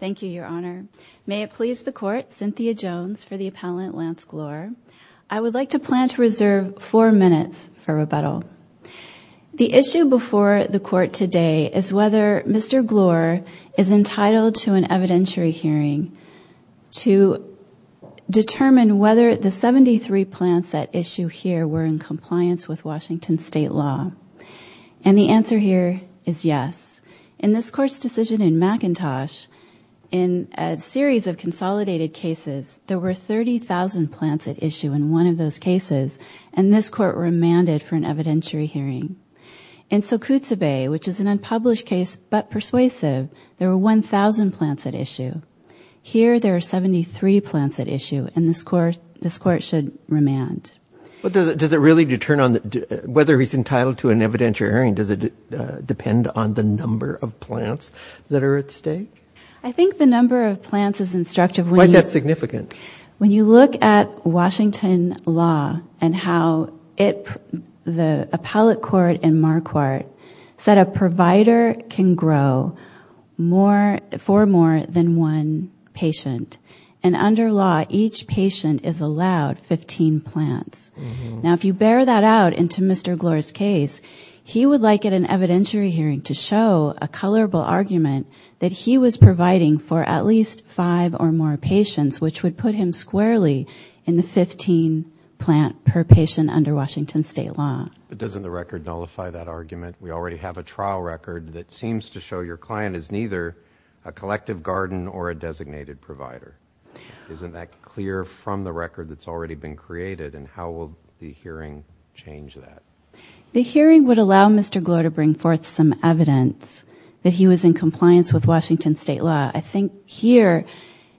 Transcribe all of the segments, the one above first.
Thank you, Your Honor. May it please the Court, Cynthia Jones for the appellant, Lance Gloor. I would like to plan to reserve four minutes for rebuttal. The issue before the Court today is whether Mr. Gloor is entitled to an evidentiary hearing to determine whether the 73 plants at issue here were in compliance with Washington State law. And the answer here is yes. In this Court's decision in McIntosh, in a series of consolidated cases, there were 30,000 plants at issue in one of those cases, and this Court remanded for an evidentiary hearing. In Sokutsa Bay, which is an unpublished case but persuasive, there were 1,000 plants at issue. Here there are 73 plants at issue, and this Court should remand. Does it really determine whether he's entitled to an evidentiary hearing? Does it depend on the number of plants that are at stake? I think the number of plants is instructive. Why is that significant? When you look at Washington law and how the appellate court in Marquardt said a provider can grow four more than one patient, and under law each patient is allowed 15 plants. Now if you bear that out into Mr. Gloor's case, he would like at an evidentiary hearing to show a colorable argument that he was providing for at least five or more patients, which would put him squarely in the 15 plant per patient under Washington State law. But doesn't the record nullify that argument? We already have a trial record that seems to show your client is neither a collective garden or a designated provider. Isn't that clear from the record that's already been created, and how will the hearing change that? The hearing would allow Mr. Gloor to bring forth some evidence that he was in compliance with Washington State law. I think here,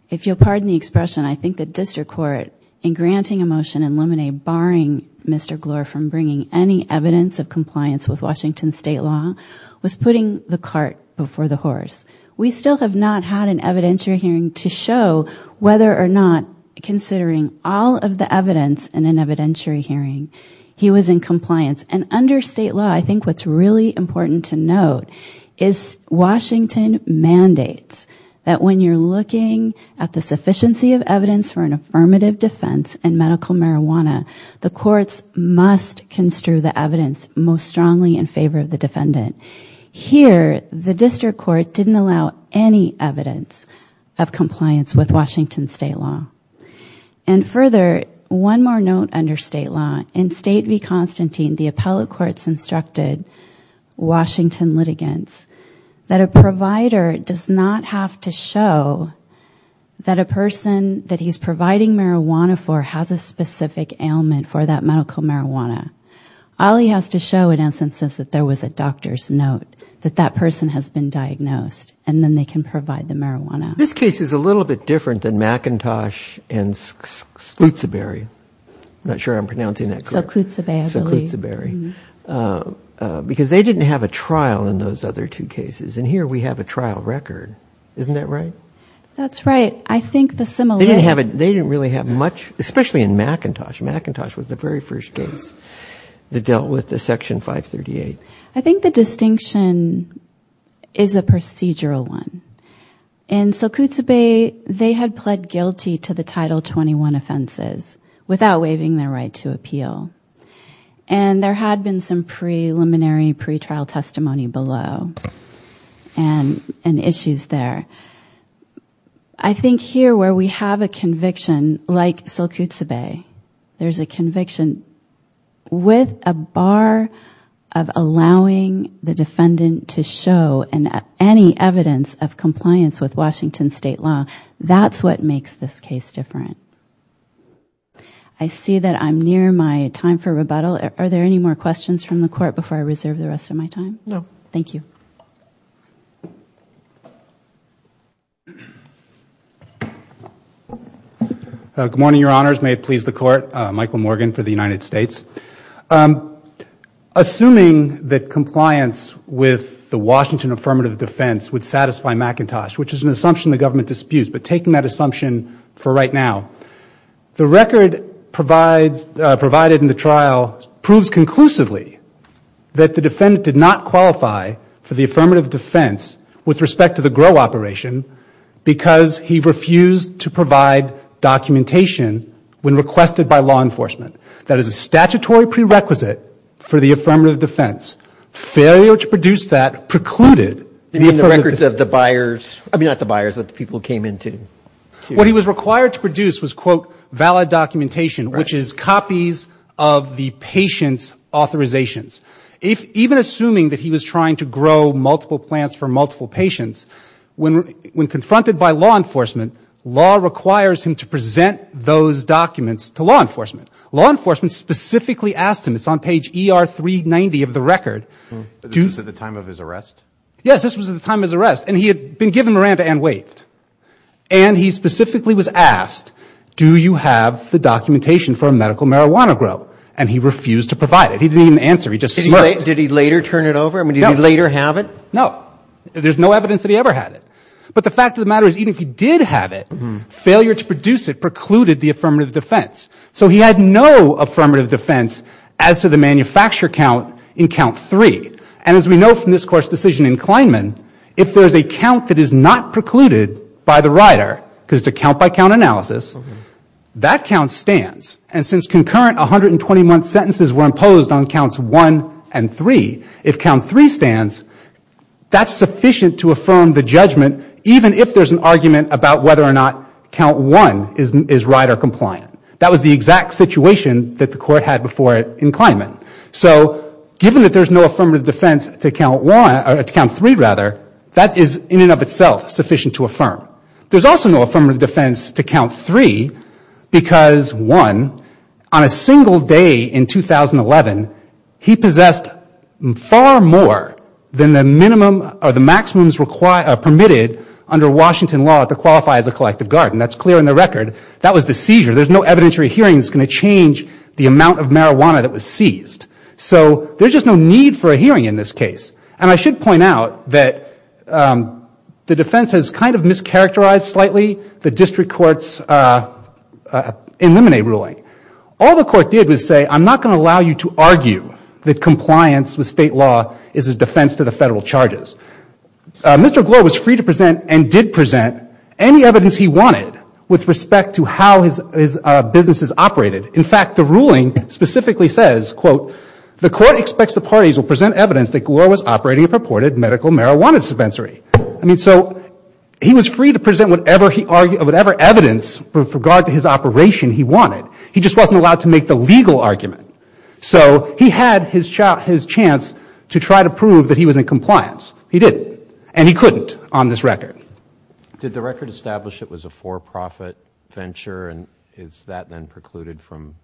if you'll pardon the expression, I think the district court in granting a motion in limine barring Mr. Gloor from bringing any evidence of compliance with Washington State law was putting the cart before the horse. We still have not had an evidentiary hearing to show whether or not, considering all of the evidence in an evidentiary hearing, he was in compliance. And under State law, I think what's really important to note is Washington mandates that when you're looking at the sufficiency of evidence for an affirmative defense in medical marijuana, the courts must construe the evidence most strongly in favor of the defendant. Here, the district court didn't allow any evidence of compliance with Washington State law. And further, one more note under State law, in State v. Constantine, the appellate courts instructed Washington litigants that a provider does not have to show that a person that he's providing marijuana for has a specific ailment for that medical marijuana. All he has to show, in essence, is that there was a doctor's note, that that person has been diagnosed, and then they can provide the marijuana. This case is a little bit different than McIntosh and Sclootsaberry. I'm not sure I'm pronouncing that correctly. Sclootsaberry, I believe. Sclootsaberry. Because they didn't have a trial in those other two cases. And here we have a trial record. Isn't that right? That's right. They didn't really have much, especially in McIntosh. McIntosh was the very first case that dealt with the Section 538. I think the distinction is a procedural one. In Sclootsaberry, they had pled guilty to the Title 21 offenses without waiving their right to appeal. And there had been some preliminary pretrial testimony below and issues there. I think here, where we have a conviction like Sclootsaberry, there's a conviction with a bar of allowing the defendant to show any evidence of compliance with Washington State law. That's what makes this case different. I see that I'm near my time for rebuttal. Are there any more questions from the Court before I reserve the rest of my time? No. Thank you. Good morning, Your Honors. May it please the Court. Michael Morgan for the United States. Assuming that compliance with the Washington affirmative defense would satisfy McIntosh, which is an assumption the government disputes, but taking that assumption for right now, the record provided in the trial proves conclusively that the defendant did not qualify for the affirmative defense with respect to the GROW operation because he refused to provide documentation when requested by law enforcement. That is a statutory prerequisite for the affirmative defense. Failure to produce that precluded the affirmative defense. You mean the records of the buyers? I mean, not the buyers, but the people who came in to? What he was required to produce was, quote, valid documentation, which is copies of the patient's authorizations. Even assuming that he was trying to grow multiple plants for multiple patients, when confronted by law enforcement, law requires him to present those documents to law enforcement. Law enforcement specifically asked him, it's on page ER 390 of the record. This was at the time of his arrest? Yes, this was at the time of his arrest. And he had been given Miranda and waived. And he specifically was asked, do you have the documentation for medical marijuana GROW? And he refused to provide it. He didn't even answer. He just smirked. Did he later turn it over? No. I mean, did he later have it? No. There's no evidence that he ever had it. But the fact of the matter is, even if he did have it, failure to produce it precluded the affirmative defense. So he had no affirmative defense as to the manufacture count in count 3. And as we know from this Court's decision in Kleinman, if there's a count that is not precluded by the rider, because it's a count-by-count analysis, that count stands. And since concurrent 121 sentences were imposed on counts 1 and 3, if count 3 stands, that's sufficient to affirm the judgment, even if there's an argument about whether or not count 1 is rider compliant. That was the exact situation that the Court had before in Kleinman. So given that there's no affirmative defense to count 3, that is in and of itself sufficient to affirm. There's also no affirmative defense to count 3 because, one, on a single day in 2011, he possessed far more than the maximums permitted under Washington law to qualify as a collective guard. And that's clear in the record. That was the seizure. There's no evidentiary hearing that's going to change the amount of marijuana that was seized. So there's just no need for a hearing in this case. And I should point out that the defense has kind of mischaracterized slightly the district court's eliminate ruling. All the court did was say, I'm not going to allow you to argue that compliance with State law is a defense to the Federal charges. Mr. Gloor was free to present and did present any evidence he wanted with respect to how his business is operated. In fact, the ruling specifically says, quote, the court expects the parties will present evidence that Gloor was operating a purported medical marijuana dispensary. I mean, so he was free to present whatever evidence with regard to his operation he wanted. He just wasn't allowed to make the legal argument. So he had his chance to try to prove that he was in compliance. He didn't. And he couldn't on this record. Did the record establish it was a for-profit venture? And is that then precluded from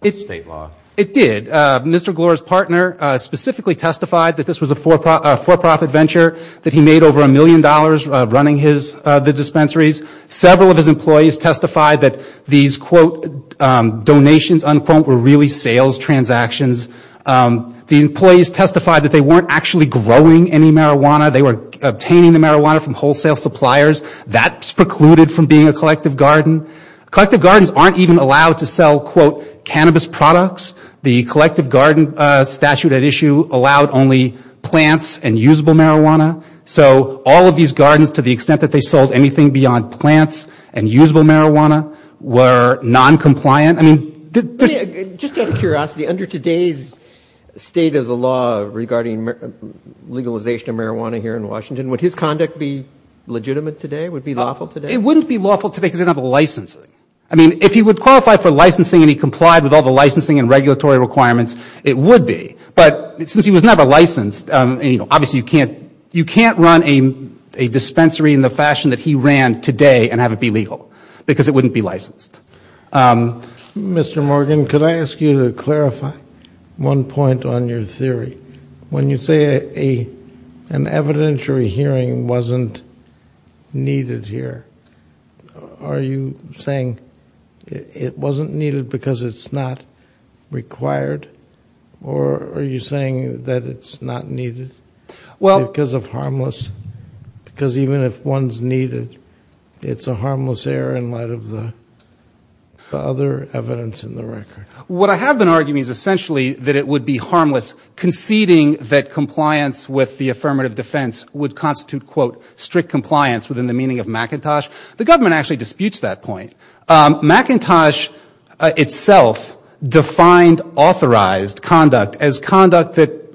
its State law? It did. Mr. Gloor's partner specifically testified that this was a for-profit venture, that he made over a million dollars running the dispensaries. Several of his employees testified that these, quote, donations, unquote, were really sales transactions. The employees testified that they weren't actually growing any marijuana. They were obtaining the marijuana from wholesale suppliers. That's precluded from being a collective garden. Collective gardens aren't even allowed to sell, quote, cannabis products. The collective garden statute at issue allowed only plants and usable marijuana. So all of these gardens, to the extent that they sold anything beyond plants and usable marijuana, were noncompliant. I mean, did... Just out of curiosity, under today's state of the law regarding legalization of marijuana here in Washington, would his conduct be legitimate today, would it be lawful today? It wouldn't be lawful today because they don't have the licensing. I mean, if he would qualify for licensing and he complied with all the licensing and regulatory requirements, it would be. But since he was never licensed, you know, obviously you can't run a dispensary in the fashion that he ran today and have it be legal because it wouldn't be licensed. Mr. Morgan, could I ask you to clarify one point on your theory? When you say an evidentiary hearing wasn't needed here, are you saying it wasn't needed because it's not required? Or are you saying that it's not needed because of harmless? Because even if one's needed, it's a harmless error in light of the other evidence in the record. What I have been arguing is essentially that it would be harmless conceding that compliance with the affirmative defense would constitute, quote, strict compliance within the meaning of McIntosh. The government actually disputes that point. McIntosh itself defined authorized conduct as conduct that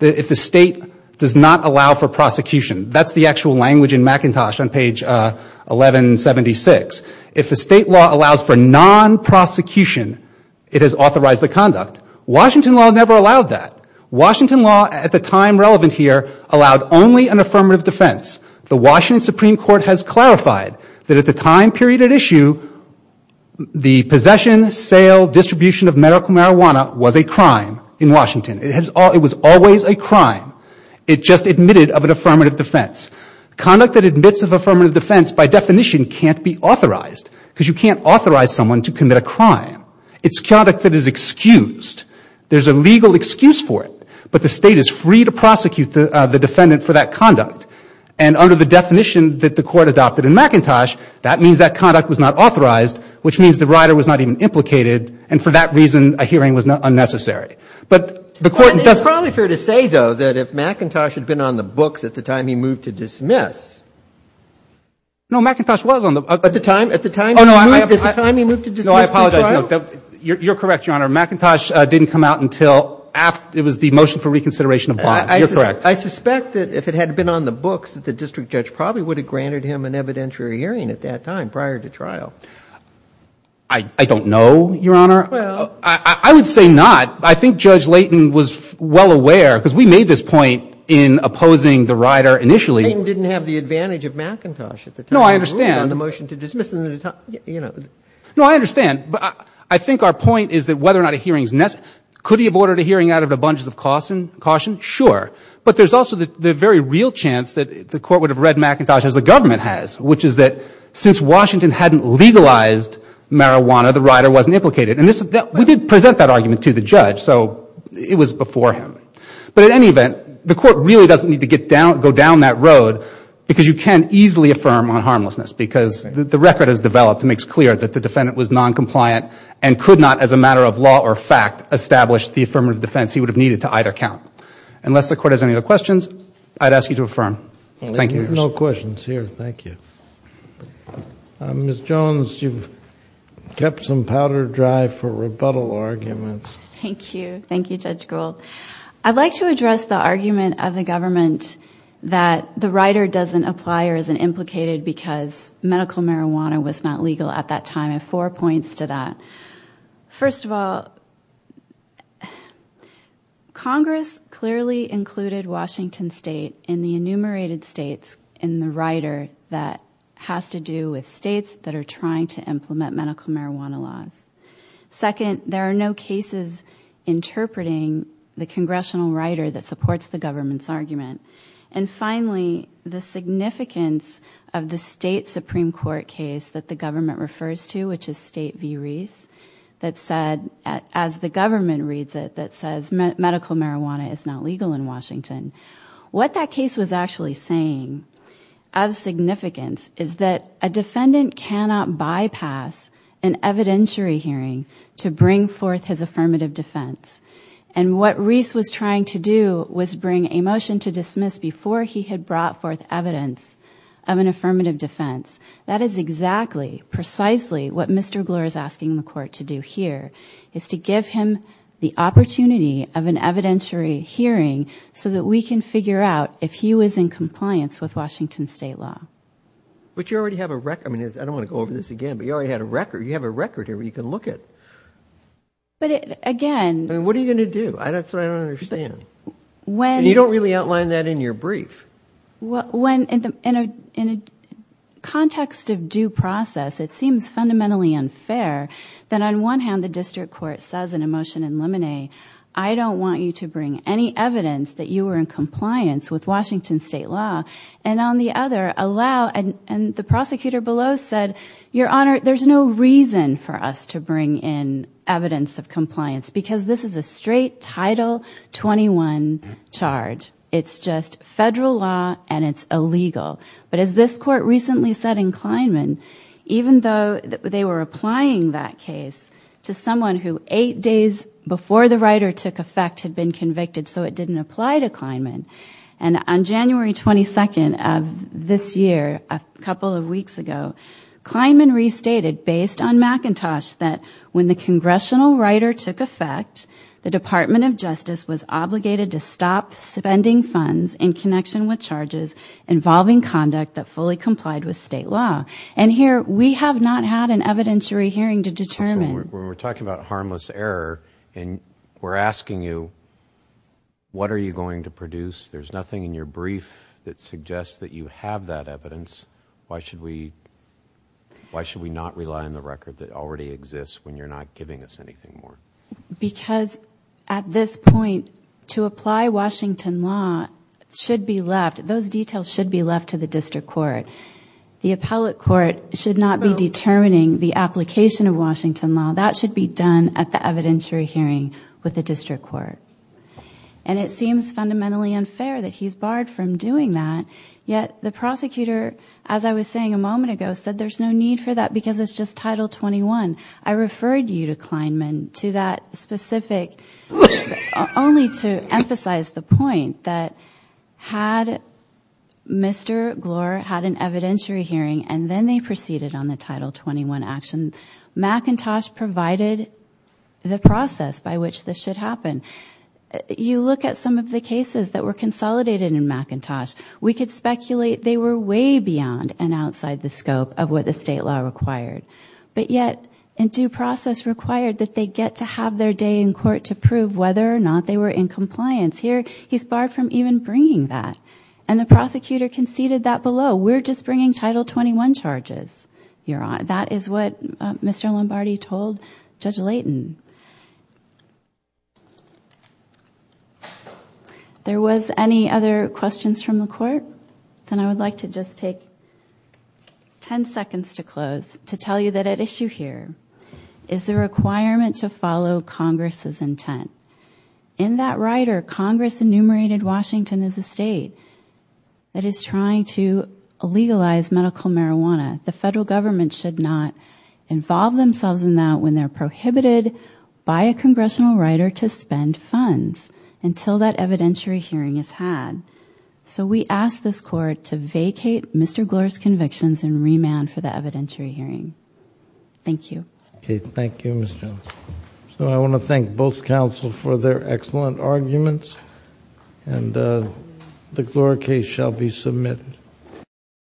if the state does not allow for prosecution. That's the actual language in McIntosh on page 1176. If the state law allows for non-prosecution, it has authorized the conduct. Washington law never allowed that. Washington law at the time relevant here allowed only an affirmative defense. The Washington Supreme Court has clarified that at the time period at issue, the possession, sale, distribution of medical marijuana was a crime in Washington. It was always a crime. It just admitted of an affirmative defense. Conduct that admits of affirmative defense by definition can't be authorized because you can't authorize someone to commit a crime. It's conduct that is excused. There's a legal excuse for it. But the state is free to prosecute the defendant for that conduct. And under the definition that the court adopted in McIntosh, that means that conduct was not authorized, which means the rider was not even implicated, and for that reason a hearing was unnecessary. But the court doesn't. It's probably fair to say, though, that if McIntosh had been on the books at the time he moved to dismiss. No, McIntosh was on the books. At the time? At the time he moved to dismiss the trial? No, I apologize. You're correct, Your Honor. McIntosh didn't come out until it was the motion for reconsideration of bond. You're correct. I suspect that if it had been on the books, that the district judge probably would have granted him an evidentiary hearing at that time prior to trial. I don't know, Your Honor. Well. I would say not. I think Judge Layton was well aware, because we made this point in opposing the rider initially. Layton didn't have the advantage of McIntosh at the time. No, I understand. He moved on the motion to dismiss. No, I understand. But I think our point is that whether or not a hearing is necessary. Could he have ordered a hearing out of the bunches of caution? Sure. But there's also the very real chance that the court would have read McIntosh as the government has, which is that since Washington hadn't legalized marijuana, the rider wasn't implicated. And we did present that argument to the judge, so it was before him. But in any event, the court really doesn't need to go down that road, because you can easily affirm on harmlessness, because the record has developed and makes clear that the defendant was noncompliant and could not, as a matter of law or fact, establish the affirmative defense he would have needed to either count. Unless the court has any other questions, I'd ask you to affirm. Thank you. No questions here. Thank you. Ms. Jones, you've kept some powder dry for rebuttal arguments. Thank you. Thank you, Judge Gould. I'd like to address the argument of the government that the rider doesn't apply or isn't implicated because medical marijuana was not legal at that time. I have four points to that. First of all, Congress clearly included Washington State in the enumerated states in the rider that has to do with states that are trying to implement medical marijuana laws. Second, there are no cases interpreting the congressional rider that supports the government's argument. And finally, the significance of the State Supreme Court case that the government refers to, which is State v. Reese, that said, as the government reads it, that says medical marijuana is not legal in Washington. What that case was actually saying of significance is that a defendant cannot bypass an evidentiary hearing to bring forth his affirmative defense. And what Reese was trying to do was bring a motion to dismiss before he had brought forth evidence of an affirmative defense. That is exactly, precisely what Mr. Gloor is asking the court to do here, is to give him the opportunity of an evidentiary hearing so that we can figure out if he was in compliance with Washington State law. But you already have a record. I mean, I don't want to go over this again, but you already had a record. You have a record here where you can look at it. But again. I mean, what are you going to do? That's what I don't understand. And you don't really outline that in your brief. In a context of due process, it seems fundamentally unfair that on one hand, the district court says in a motion in limine, I don't want you to bring any evidence that you were in compliance with Washington State law. And on the other, allow, and the prosecutor below said, Your Honor, there's no reason for us to bring in evidence of compliance because this is a straight Title 21 charge. It's just federal law, and it's illegal. But as this court recently said in Kleinman, even though they were applying that case to someone who, eight days before the writer took effect, had been convicted, so it didn't apply to Kleinman. And on January 22nd of this year, a couple of weeks ago, Kleinman restated, based on McIntosh, that when the congressional writer took effect, the Department of Justice was obligated to stop spending funds in connection with charges involving conduct that fully complied with state law. And here, we have not had an evidentiary hearing to determine. So when we're talking about harmless error, and we're asking you, what are you going to produce? There's nothing in your brief that suggests that you have that evidence. Why should we not rely on the record that already exists when you're not giving us anything more? Because at this point, to apply Washington law should be left, those details should be left to the district court. The appellate court should not be determining the application of Washington law. That should be done at the evidentiary hearing with the district court. And it seems fundamentally unfair that he's barred from doing that, yet the prosecutor, as I was saying a moment ago, said there's no need for that because it's just Title 21. I referred you to Kleinman to that specific, only to emphasize the point that had Mr. Glor had an evidentiary hearing and then they proceeded on the Title 21 action, McIntosh provided the process by which this should happen. You look at some of the cases that were consolidated in McIntosh, we could speculate they were way beyond and outside the scope of what the state law required. But yet, in due process required that they get to have their day in court to prove whether or not they were in compliance. Here, he's barred from even bringing that. And the prosecutor conceded that below. We're just bringing Title 21 charges. That is what Mr. Lombardi told Judge Layton. There was any other questions from the court? Then I would like to just take ten seconds to close to tell you that at issue here is the requirement to follow Congress's intent. In that rider, Congress enumerated Washington as a state that is trying to legalize medical marijuana. The federal government should not involve themselves in that when they're prohibited by a congressional rider to spend funds until that evidentiary hearing is had. So we ask this court to vacate Mr. Glure's convictions and remand for the evidentiary hearing. Thank you. Okay, thank you, Ms. Jones. So I want to thank both counsel for their excellent arguments. And the Glure case shall be submitted.